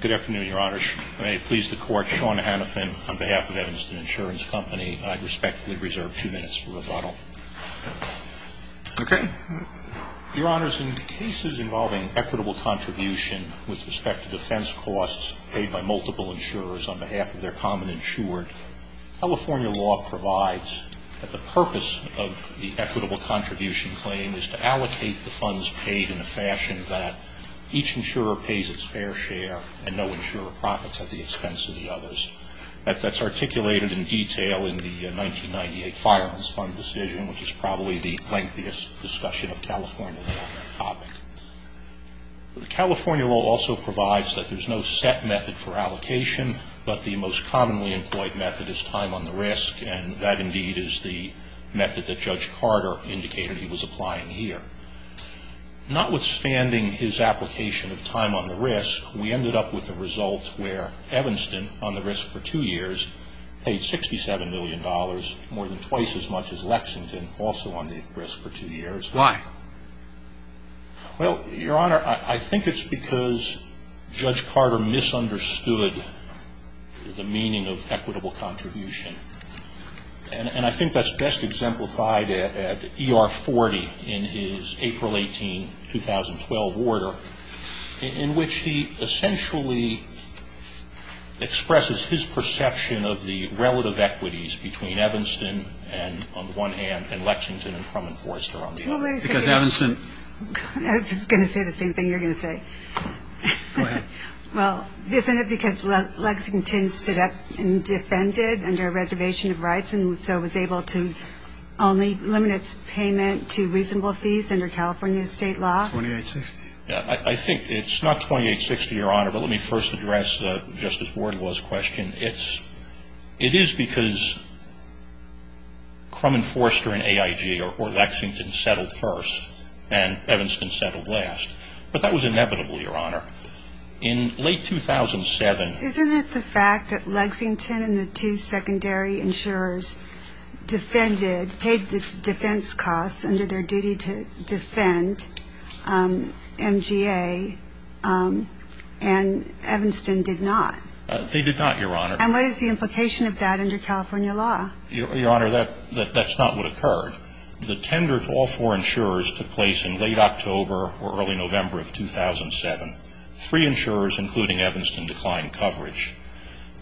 Good afternoon, Your Honors. May it please the Court, Sean Hannifin, on behalf of Evanston Insurance Company, I respectfully reserve two minutes for rebuttal. Your Honors, in cases involving equitable contribution with respect to defense costs paid by multiple insurers on behalf of their common insured, California law provides that the purpose of the equitable contribution claim is to allocate the funds paid in a fashion that each insurer pays its fair share and no insurer profits at the expense of the others. That's articulated in detail in the 1998 Firearms Fund decision, which is probably the lengthiest discussion of California law on that topic. California law also provides that there's no set method for allocation, but the most commonly employed method is time on the risk, and that indeed is the method that Judge Carter indicated he was applying here. Notwithstanding his application of time on the risk, we ended up with a result where Evanston, on the risk for two years, paid $67 million, more than twice as much as Lexington, also on the risk for two years. Why? Well, Your Honor, I think it's because Judge Carter misunderstood the meaning of equitable 2012 order, in which he essentially expresses his perception of the relative equities between Evanston and, on the one hand, and Lexington and Crum and Foerster on the other. Because Evanston... I was just going to say the same thing you're going to say. Go ahead. Well, isn't it because Lexington stood up and defended under a reservation of rights and so was able to only limit its payment to reasonable fees under California state law? 2860. I think it's not 2860, Your Honor, but let me first address Justice Wardwell's question. It is because Crum and Foerster and AIG or Lexington settled first and Evanston settled last. But that was inevitable, Your Honor. In late 2007... Isn't it the fact that Lexington and the two secondary insurers defended, paid the defense costs under their duty to defend MGA and Evanston did not? They did not, Your Honor. And what is the implication of that under California law? Your Honor, that's not what occurred. The tender to all four insurers took place in late October or early November of 2007. Three insurers, including Evanston, declined coverage.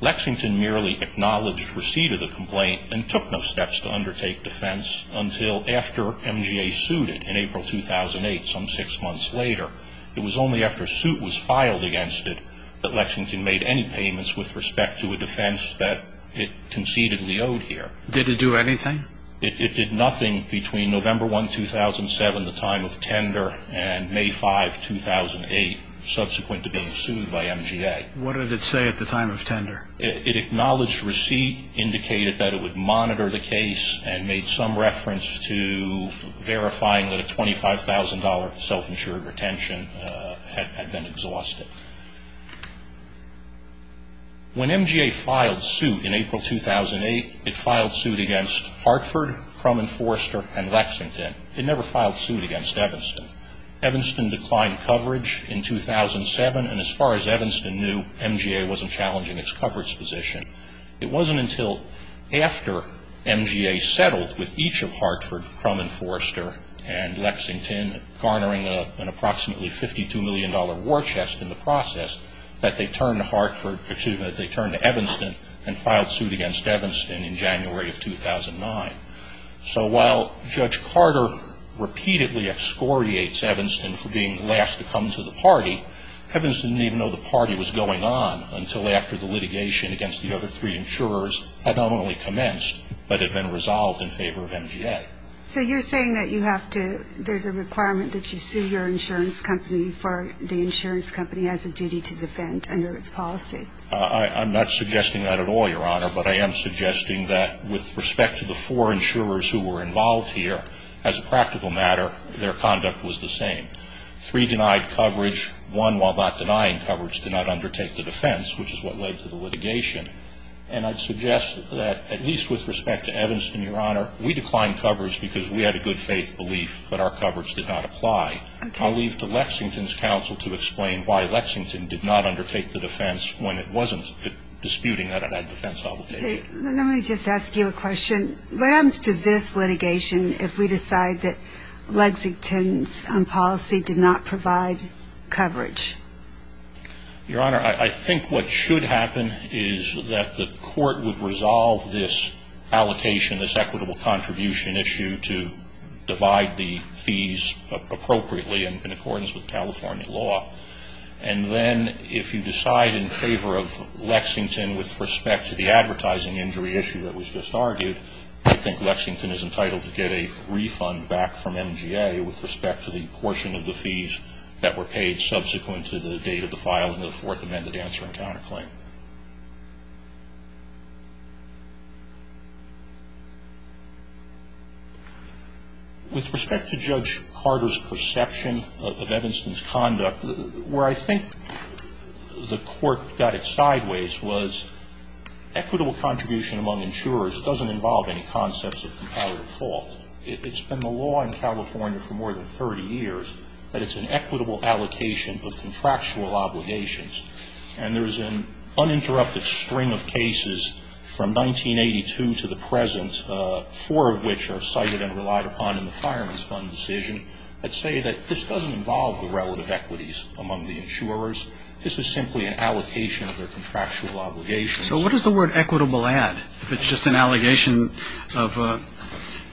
Lexington merely acknowledged receipt of the complaint and took no steps to undertake defense until after MGA sued it in April 2008, some six months later. It was only after suit was filed against it that Lexington made any payments with respect to a defense that it concededly owed here. Did it do anything? It did nothing between November 1, 2007, the time of tender, and May 5, 2008, subsequent to being sued by MGA. What did it say at the time of tender? It acknowledged receipt, indicated that it would monitor the case, and made some reference to verifying that a $25,000 self-insured retention had been exhausted. When MGA filed suit in April 2008, it filed suit against Hartford, Crum and Forrester, and Lexington. It never filed suit against Evanston. Evanston declined coverage in 2007, and as far as Evanston knew, MGA wasn't challenging its coverage position. It wasn't until after MGA settled with each of Hartford, Crum and Forrester, and Lexington, garnering an approximately $52 million war chest in the process, that they turned to Evanston and filed suit against Evanston in January of 2009. So while Judge Carter repeatedly excoriates Evanston for being the last to come to the party, Evanston didn't even know the party was going on until after the litigation against the other three insurers had not only commenced, but had been resolved in favor of MGA. So you're saying that you have to, there's a requirement that you sue your insurance company for the insurance company has a duty to defend under its policy? I'm not suggesting that at all, Your Honor, but I am suggesting that with respect to the four insurers who were involved here, as a practical matter, their conduct was the same. Three denied coverage, one while not denying coverage, did not undertake the defense, which is what led to the litigation. And I'd suggest that, at least with respect to Evanston, Your Honor, we declined coverage because we had a good faith belief that our coverage did not apply. I'll leave to Lexington's counsel to explain why Lexington did not undertake the defense when it wasn't disputing that it had defense obligations. Let me just ask you a question. What happens to this litigation if we decide that Lexington's policy did not provide coverage? Your Honor, I think what should happen is that the court would resolve this allocation, this equitable contribution issue to divide the fees appropriately and in accordance with California law, and then if you decide in favor of Lexington with respect to the advertising injury issue that was just argued, I think Lexington is entitled to get a refund back from MGA with respect to the portion of the fees that were paid subsequent to the date of the filing of the Fourth Amendment Answer and Counterclaim. With respect to Judge Carter's perception of Evanston's conduct, where I think the court got it sideways was equitable contribution among insurers doesn't involve any concepts of comparative fault. It's been the law in California for more than 30 years that it's an equitable allocation of contractual obligations, and there's an uninterrupted string of cases from 1982 to the present, four of which are cited and relied upon in the Fireman's Fund decision, that say that this doesn't involve the relative equities among the insurers. This is simply an allocation of their contractual obligations. So what does the word equitable add? If it's just an allegation of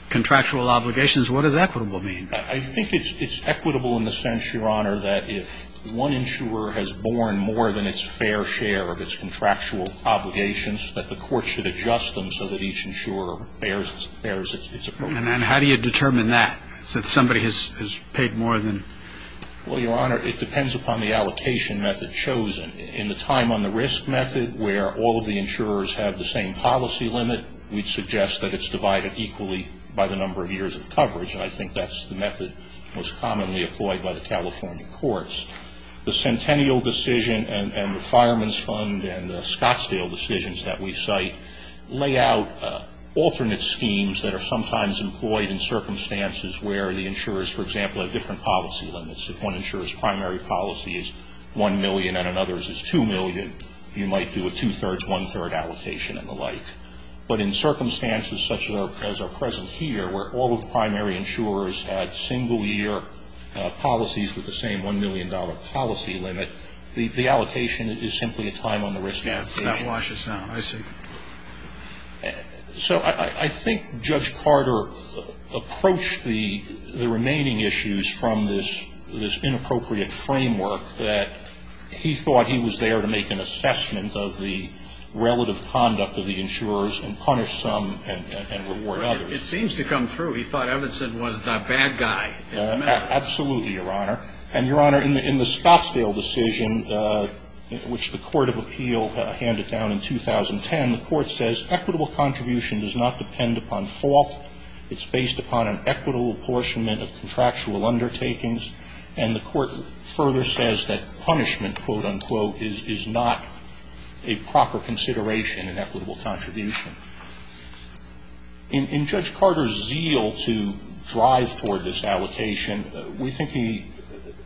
contractual obligations, what does equitable mean? I think it's equitable in the sense, Your Honor, that if one insurer has borne more than its fair share of its contractual obligations, that the court should adjust them so that each insurer bears its appropriations. And how do you determine that, that somebody has paid more than? Well, Your Honor, it depends upon the allocation method chosen. In the time on the risk method, where all of the insurers have the same policy limit, we'd suggest that it's divided equally by the number of years of coverage, and I think that's the method most commonly employed by the California courts. The Centennial decision and the Fireman's Fund and the Scottsdale decisions that we cite lay out alternate schemes that are sometimes employed in circumstances where the insurers, for example, have different policy limits. If one insurer's primary policy is $1 million and another's is $2 million, you might do a two-thirds, one-third allocation and the like. But in circumstances such as are present here, where all of the primary insurers had single-year policies with the same $1 million policy limit, the allocation is simply a time on the risk allocation. Yeah. It's not washes now. I see. So I think Judge Carter approached the remaining issues from this inappropriate framework that he thought he was there to make an assessment of the relative conduct of the insurers and punish some and reward others. It seems to come through. He thought Everson was the bad guy. Absolutely, Your Honor, and Your Honor, in the Scottsdale decision, which the Court of And the Court says equitable contribution does not depend upon fault. It's based upon an equitable apportionment of contractual undertakings. And the Court further says that punishment, quote, unquote, is not a proper consideration in equitable contribution. In Judge Carter's zeal to drive toward this allocation, we think he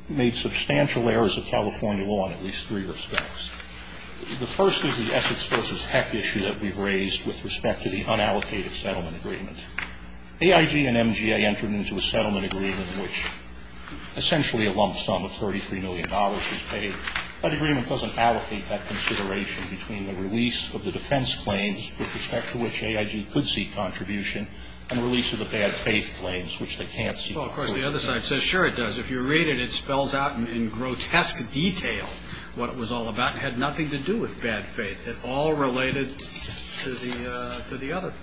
made substantial errors of California law in at least three respects. The first is the Essex v. Heck issue that we've raised with respect to the unallocated settlement agreement. AIG and MGA entered into a settlement agreement which essentially a lump sum of $33 million was paid. That agreement doesn't allocate that consideration between the release of the defense claims with respect to which AIG could seek contribution and release of the bad faith claims, which they can't seek. Well, of course, the other side says, sure, it does. If you read it, it spells out in grotesque detail what it was all about. It had nothing to do with bad faith. It all related to the other.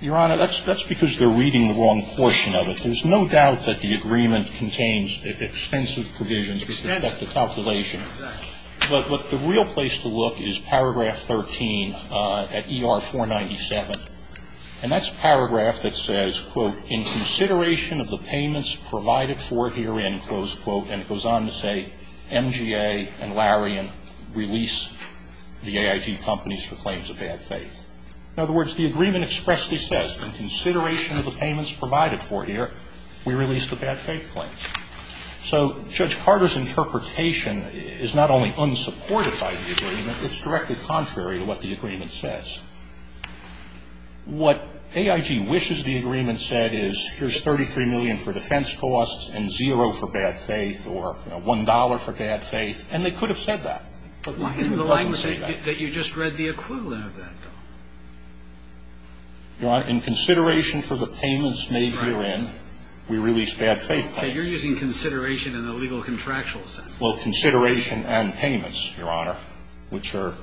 Your Honor, that's because they're reading the wrong portion of it. There's no doubt that the agreement contains extensive provisions with respect to calculation. But the real place to look is paragraph 13 at ER-497. And that's a paragraph that says, quote, in consideration of the payments provided for herein, close quote, and it goes on to say, MGA and Larian release the AIG companies for claims of bad faith. In other words, the agreement expressly says, in consideration of the payments provided for here, we release the bad faith claims. So Judge Carter's interpretation is not only unsupported by the agreement, it's directly contrary to what the agreement says. What AIG wishes the agreement said is, here's 33 million for defense costs and zero for bad faith or $1 for bad faith, and they could have said that, but the agreement doesn't say that. But why is the language that you just read the equivalent of that, though? Your Honor, in consideration for the payments made herein, we release bad faith claims. Okay, you're using consideration in a legal contractual sense. Well, consideration and payments, Your Honor, which are,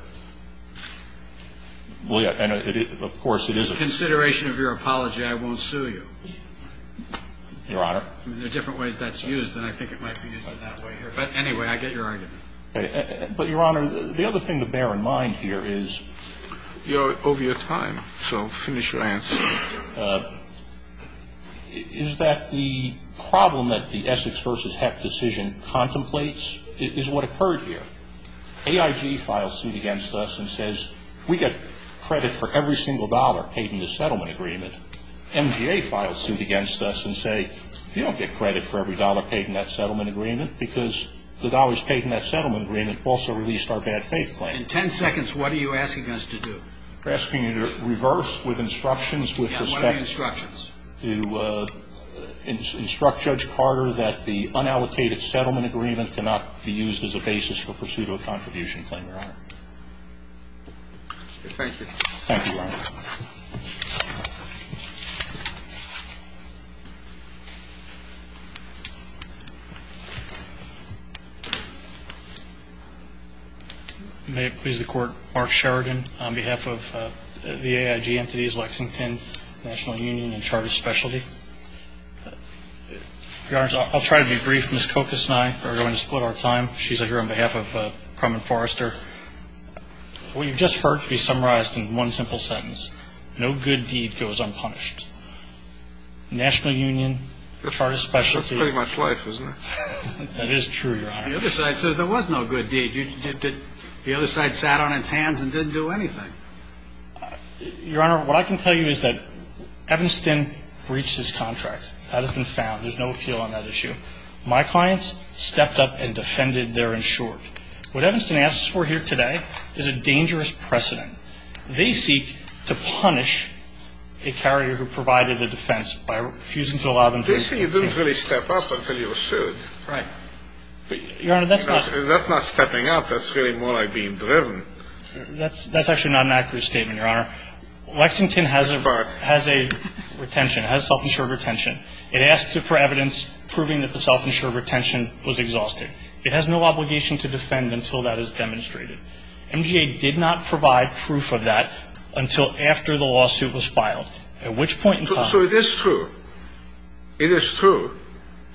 well, yeah, and of course it is a In consideration of your apology, I won't sue you. Your Honor. There are different ways that's used, and I think it might be used in that way here. But anyway, I get your argument. But, Your Honor, the other thing to bear in mind here is You're over your time, so finish your answer. Is that the problem that the Essex v. Hecht decision contemplates is what occurred here. AIG files suit against us and says, we get credit for every single dollar paid in the settlement agreement. MGA files suit against us and say, you don't get credit for every dollar paid in that settlement agreement because the dollars paid in that settlement agreement also released our bad faith claim. In ten seconds, what are you asking us to do? We're asking you to reverse with instructions, with respect And what are the instructions? To instruct Judge Carter that the unallocated settlement agreement cannot be used as a basis for pursuit of a contribution claim, Your Honor. Thank you. Thank you, Your Honor. May it please the Court, Mark Sheridan on behalf of the AIG entities, Lexington, National Union, and Charter Specialty. Your Honor, I'll try to be brief. Ms. Kokos and I are going to split our time. She's here on behalf of Prum and Forrester. What you've just heard can be summarized in one simple sentence. No good deed goes unpunished. National Union, Charter Specialty. That's pretty much life, isn't it? That is true, Your Honor. The other side says there was no good deed. The other side sat on its hands and didn't do anything. Your Honor, what I can tell you is that Evanston breached his contract. That has been found. There's no appeal on that issue. My clients stepped up and defended their insured. What Evanston asks for here today is a dangerous precedent. They seek to punish a carrier who provided a defense by refusing to allow them to make changes. They say you didn't really step up until you were sued. Right. Your Honor, that's not stepping up. That's really more like being driven. That's actually not an accurate statement, Your Honor. Lexington has a retention, has self-insured retention. It asks for evidence proving that the self-insured retention was exhaustive. It has no obligation to defend until that is demonstrated. MGA did not provide proof of that until after the lawsuit was filed, at which point in time. So it is true. It is true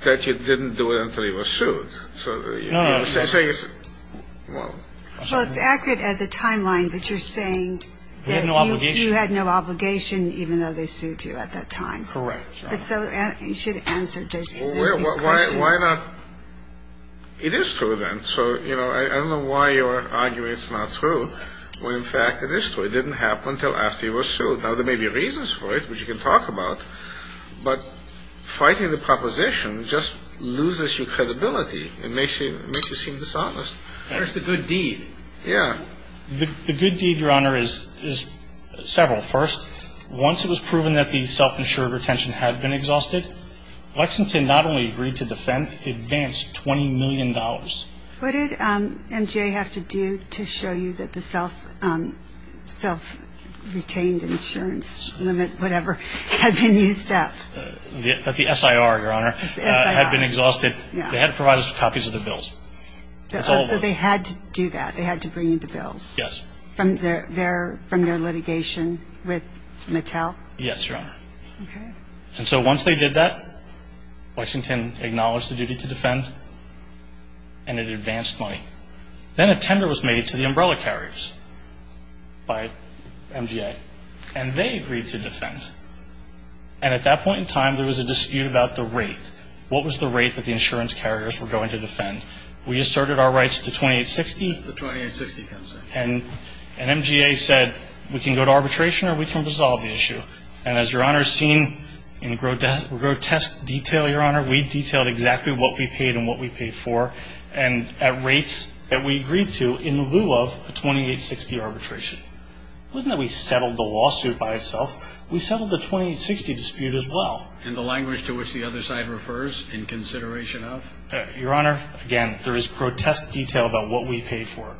that you didn't do it until you were sued. No, no. Well, it's accurate as a timeline, but you're saying that you had no obligation even though they sued you at that time. Correct. So you should answer this question. Why not? It is true, then. So, you know, I don't know why you're arguing it's not true when, in fact, it is true. It didn't happen until after you were sued. Now, there may be reasons for it, which you can talk about, but fighting the proposition just loses your credibility. It makes you seem dishonest. Where's the good deed? Yeah. The good deed, Your Honor, is several. First, once it was proven that the self-insured retention had been exhausted, Lexington not only agreed to defend, but it advanced $20 million. What did MGA have to do to show you that the self-retained insurance limit, whatever, had been used up? That the SIR, Your Honor, had been exhausted. They had to provide us with copies of the bills. So they had to do that? They had to bring you the bills? Yes. From their litigation with Mattel? Yes, Your Honor. Okay. And so once they did that, Lexington acknowledged the duty to defend, and it advanced money. Then a tender was made to the umbrella carriers by MGA, and they agreed to defend. And at that point in time, there was a dispute about the rate. What was the rate that the insurance carriers were going to defend? We asserted our rights to $2,860. The $2,860 comes in. And MGA said, we can go to arbitration or we can resolve the issue. And as Your Honor has seen in grotesque detail, Your Honor, we detailed exactly what we paid and what we paid for, and at rates that we agreed to in lieu of a $2,860 arbitration. It wasn't that we settled the lawsuit by itself. We settled the $2,860 dispute as well. And the language to which the other side refers, in consideration of? Your Honor, again, there is grotesque detail about what we paid for.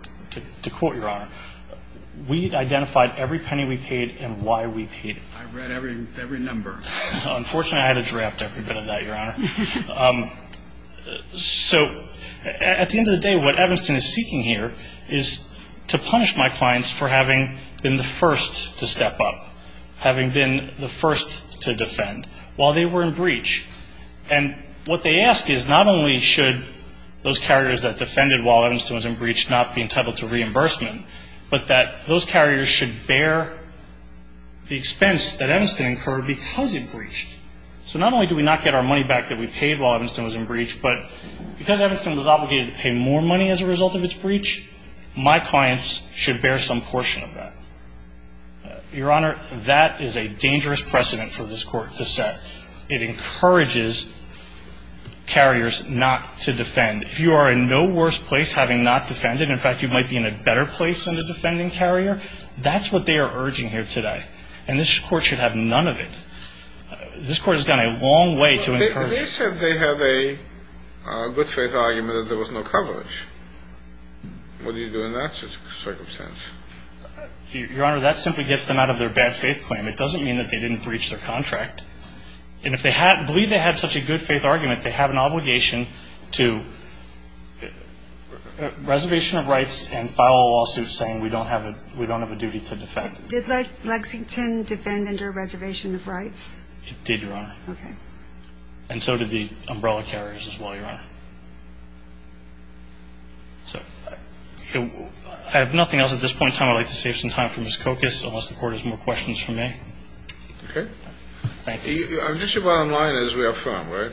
To quote Your Honor, we identified every penny we paid and why we paid it. I read every number. Unfortunately, I had to draft every bit of that, Your Honor. So at the end of the day, what Evanston is seeking here is to punish my clients for having been the first to step up, having been the first to defend while they were in breach. And what they ask is not only should those carriers that defended while Evanston was in breach not be entitled to reimbursement, but that those carriers should bear the expense that Evanston incurred because it breached. So not only do we not get our money back that we paid while Evanston was in breach, but because Evanston was obligated to pay more money as a result of its breach, my clients should bear some portion of that. Your Honor, that is a dangerous precedent for this Court to set. It encourages carriers not to defend. If you are in no worse place having not defended, in fact, you might be in a better place than the defending carrier, that's what they are urging here today. And this Court should have none of it. This Court has gone a long way to encourage it. But they said they have a good-faith argument that there was no coverage. What do you do in that circumstance? Your Honor, that simply gets them out of their bad-faith claim. It doesn't mean that they didn't breach their contract. And if they believe they had such a good-faith argument, they have an obligation to reservation of rights and file a lawsuit saying we don't have a duty to defend. Did Lexington defend under a reservation of rights? It did, Your Honor. Okay. And so did the umbrella carriers as well, Your Honor. So I have nothing else at this point in time. I'd like to save some time for Ms. Kokas, unless the Court has more questions for me. Okay. Thank you. Just your bottom line is we affirm, right?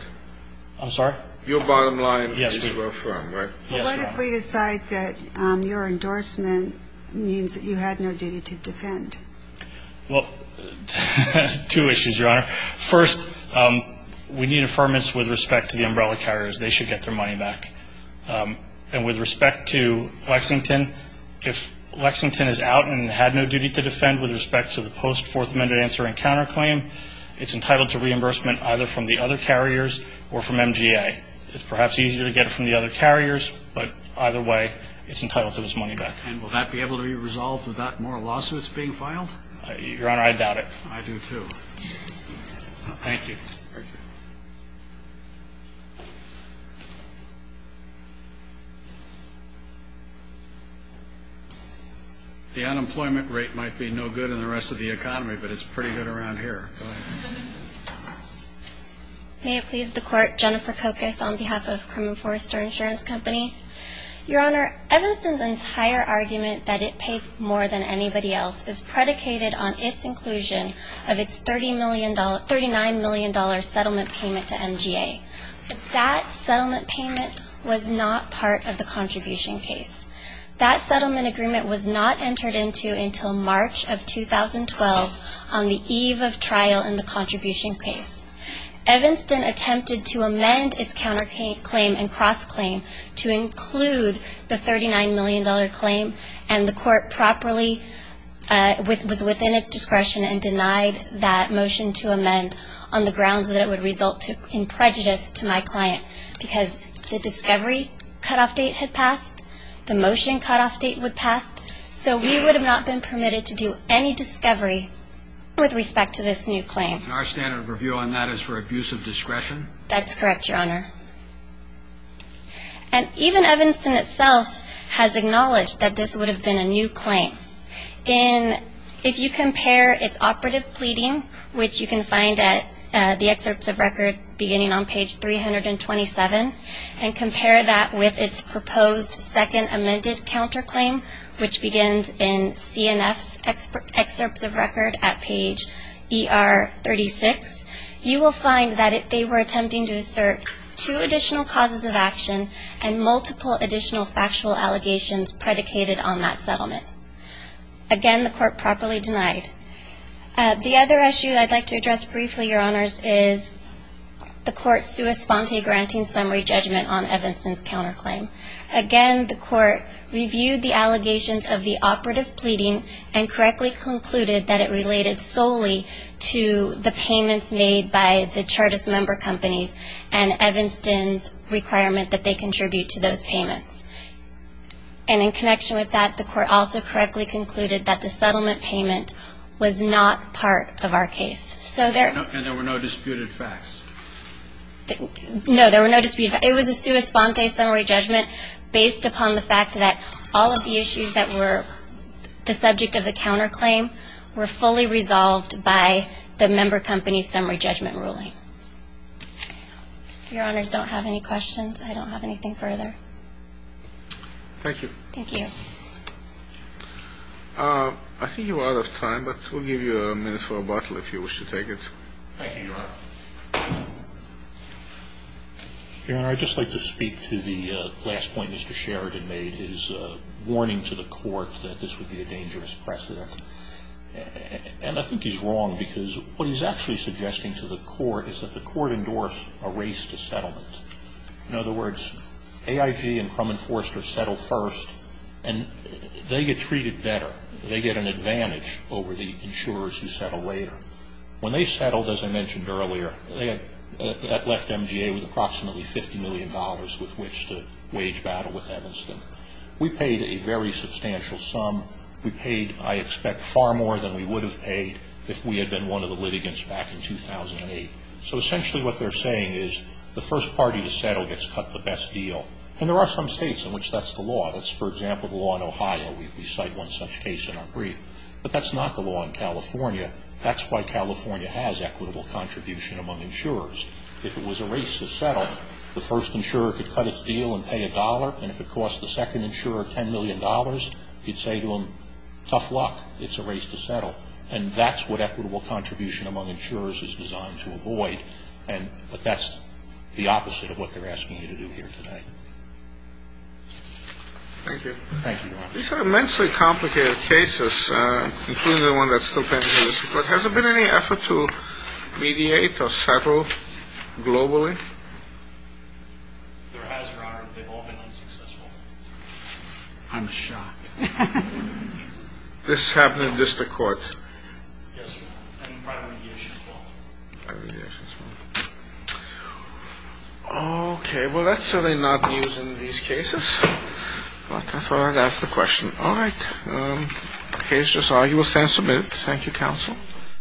I'm sorry? Your bottom line is we affirm, right? Yes, Your Honor. What if we decide that your endorsement means that you had no duty to defend? Well, two issues, Your Honor. First, we need affirmance with respect to the umbrella carriers. They should get their money back. And with respect to Lexington, if Lexington is out and had no duty to defend with respect to the post-Fourth Amendment answering counterclaim, it's entitled to reimbursement either from the other carriers or from MGA. It's perhaps easier to get it from the other carriers, but either way, it's entitled to its money back. And will that be able to be resolved without more lawsuits being filed? Your Honor, I doubt it. I do too. Thank you. Thank you. The unemployment rate might be no good in the rest of the economy, but it's pretty good around here. Go ahead. May it please the Court. Jennifer Kokos on behalf of Cremon Forrester Insurance Company. Your Honor, Evanston's entire argument that it paid more than anybody else is predicated on its inclusion of its $39 million settlement payment to MGA. That settlement payment was not part of the contribution case. That settlement agreement was not entered into until March of 2012 on the eve of trial in the contribution case. Evanston attempted to amend its counterclaim and cross-claim to include the $39 million claim, and the Court properly was within its discretion and denied that motion to amend on the grounds that it would result in prejudice to my client because the discovery cutoff date had passed, the motion cutoff date would pass, so we would have not been permitted to do any discovery with respect to this new claim. And our standard of review on that is for abuse of discretion? That's correct, Your Honor. And even Evanston itself has acknowledged that this would have been a new claim. If you compare its operative pleading, which you can find at the excerpts of record beginning on page 327, and compare that with its proposed second amended counterclaim, which begins in CNF's excerpts of record at page ER 36, you will find that they were attempting to assert two additional causes of action and multiple additional factual allegations predicated on that settlement. Again, the Court properly denied. The other issue I'd like to address briefly, Your Honors, is the Court's sua sponte granting summary judgment on Evanston's counterclaim. Again, the Court reviewed the allegations of the operative pleading and correctly concluded that it related solely to the payments made by the charges member companies and Evanston's requirement that they contribute to those payments. And in connection with that, the Court also correctly concluded that the settlement payment was not part of our case. And there were no disputed facts? No, there were no disputed facts. It was a sua sponte summary judgment based upon the fact that all of the issues that were the subject of the counterclaim were fully resolved by the member company's summary judgment ruling. If Your Honors don't have any questions, I don't have anything further. Thank you. Thank you. I think you're out of time, but we'll give you a minute for a bottle if you wish to take it. Thank you, Your Honor. Your Honor, I'd just like to speak to the last point Mr. Sheridan made, his warning to the Court that this would be a dangerous precedent. And I think he's wrong because what he's actually suggesting to the Court is that the Court endorsed a race to settlement. In other words, AIG and Crumman Forrester settle first, and they get treated better. They get an advantage over the insurers who settle later. When they settled, as I mentioned earlier, that left MGA with approximately $50 million with which to wage battle with Evanston. We paid a very substantial sum. We paid, I expect, far more than we would have paid if we had been one of the litigants back in 2008. So essentially what they're saying is the first party to settle gets cut the best deal. And there are some states in which that's the law. That's, for example, the law in Ohio. We cite one such case in our brief. But that's not the law in California. That's why California has equitable contribution among insurers. If it was a race to settle, the first insurer could cut its deal and pay a dollar. And if it cost the second insurer $10 million, you'd say to them, tough luck. It's a race to settle. And that's what equitable contribution among insurers is designed to avoid. But that's the opposite of what they're asking you to do here today. Thank you. Thank you, Your Honor. These are immensely complicated cases, including the one that's still pending. But has there been any effort to mediate or settle globally? There has, Your Honor. They've all been unsuccessful. I'm shocked. This happened in district court? Yes, Your Honor. And in private mediation as well. Private mediation as well. Okay. Well, that's certainly not the use in these cases. I thought I'd ask the question. All right. The case is argued. We'll stand submitted. Thank you, counsel.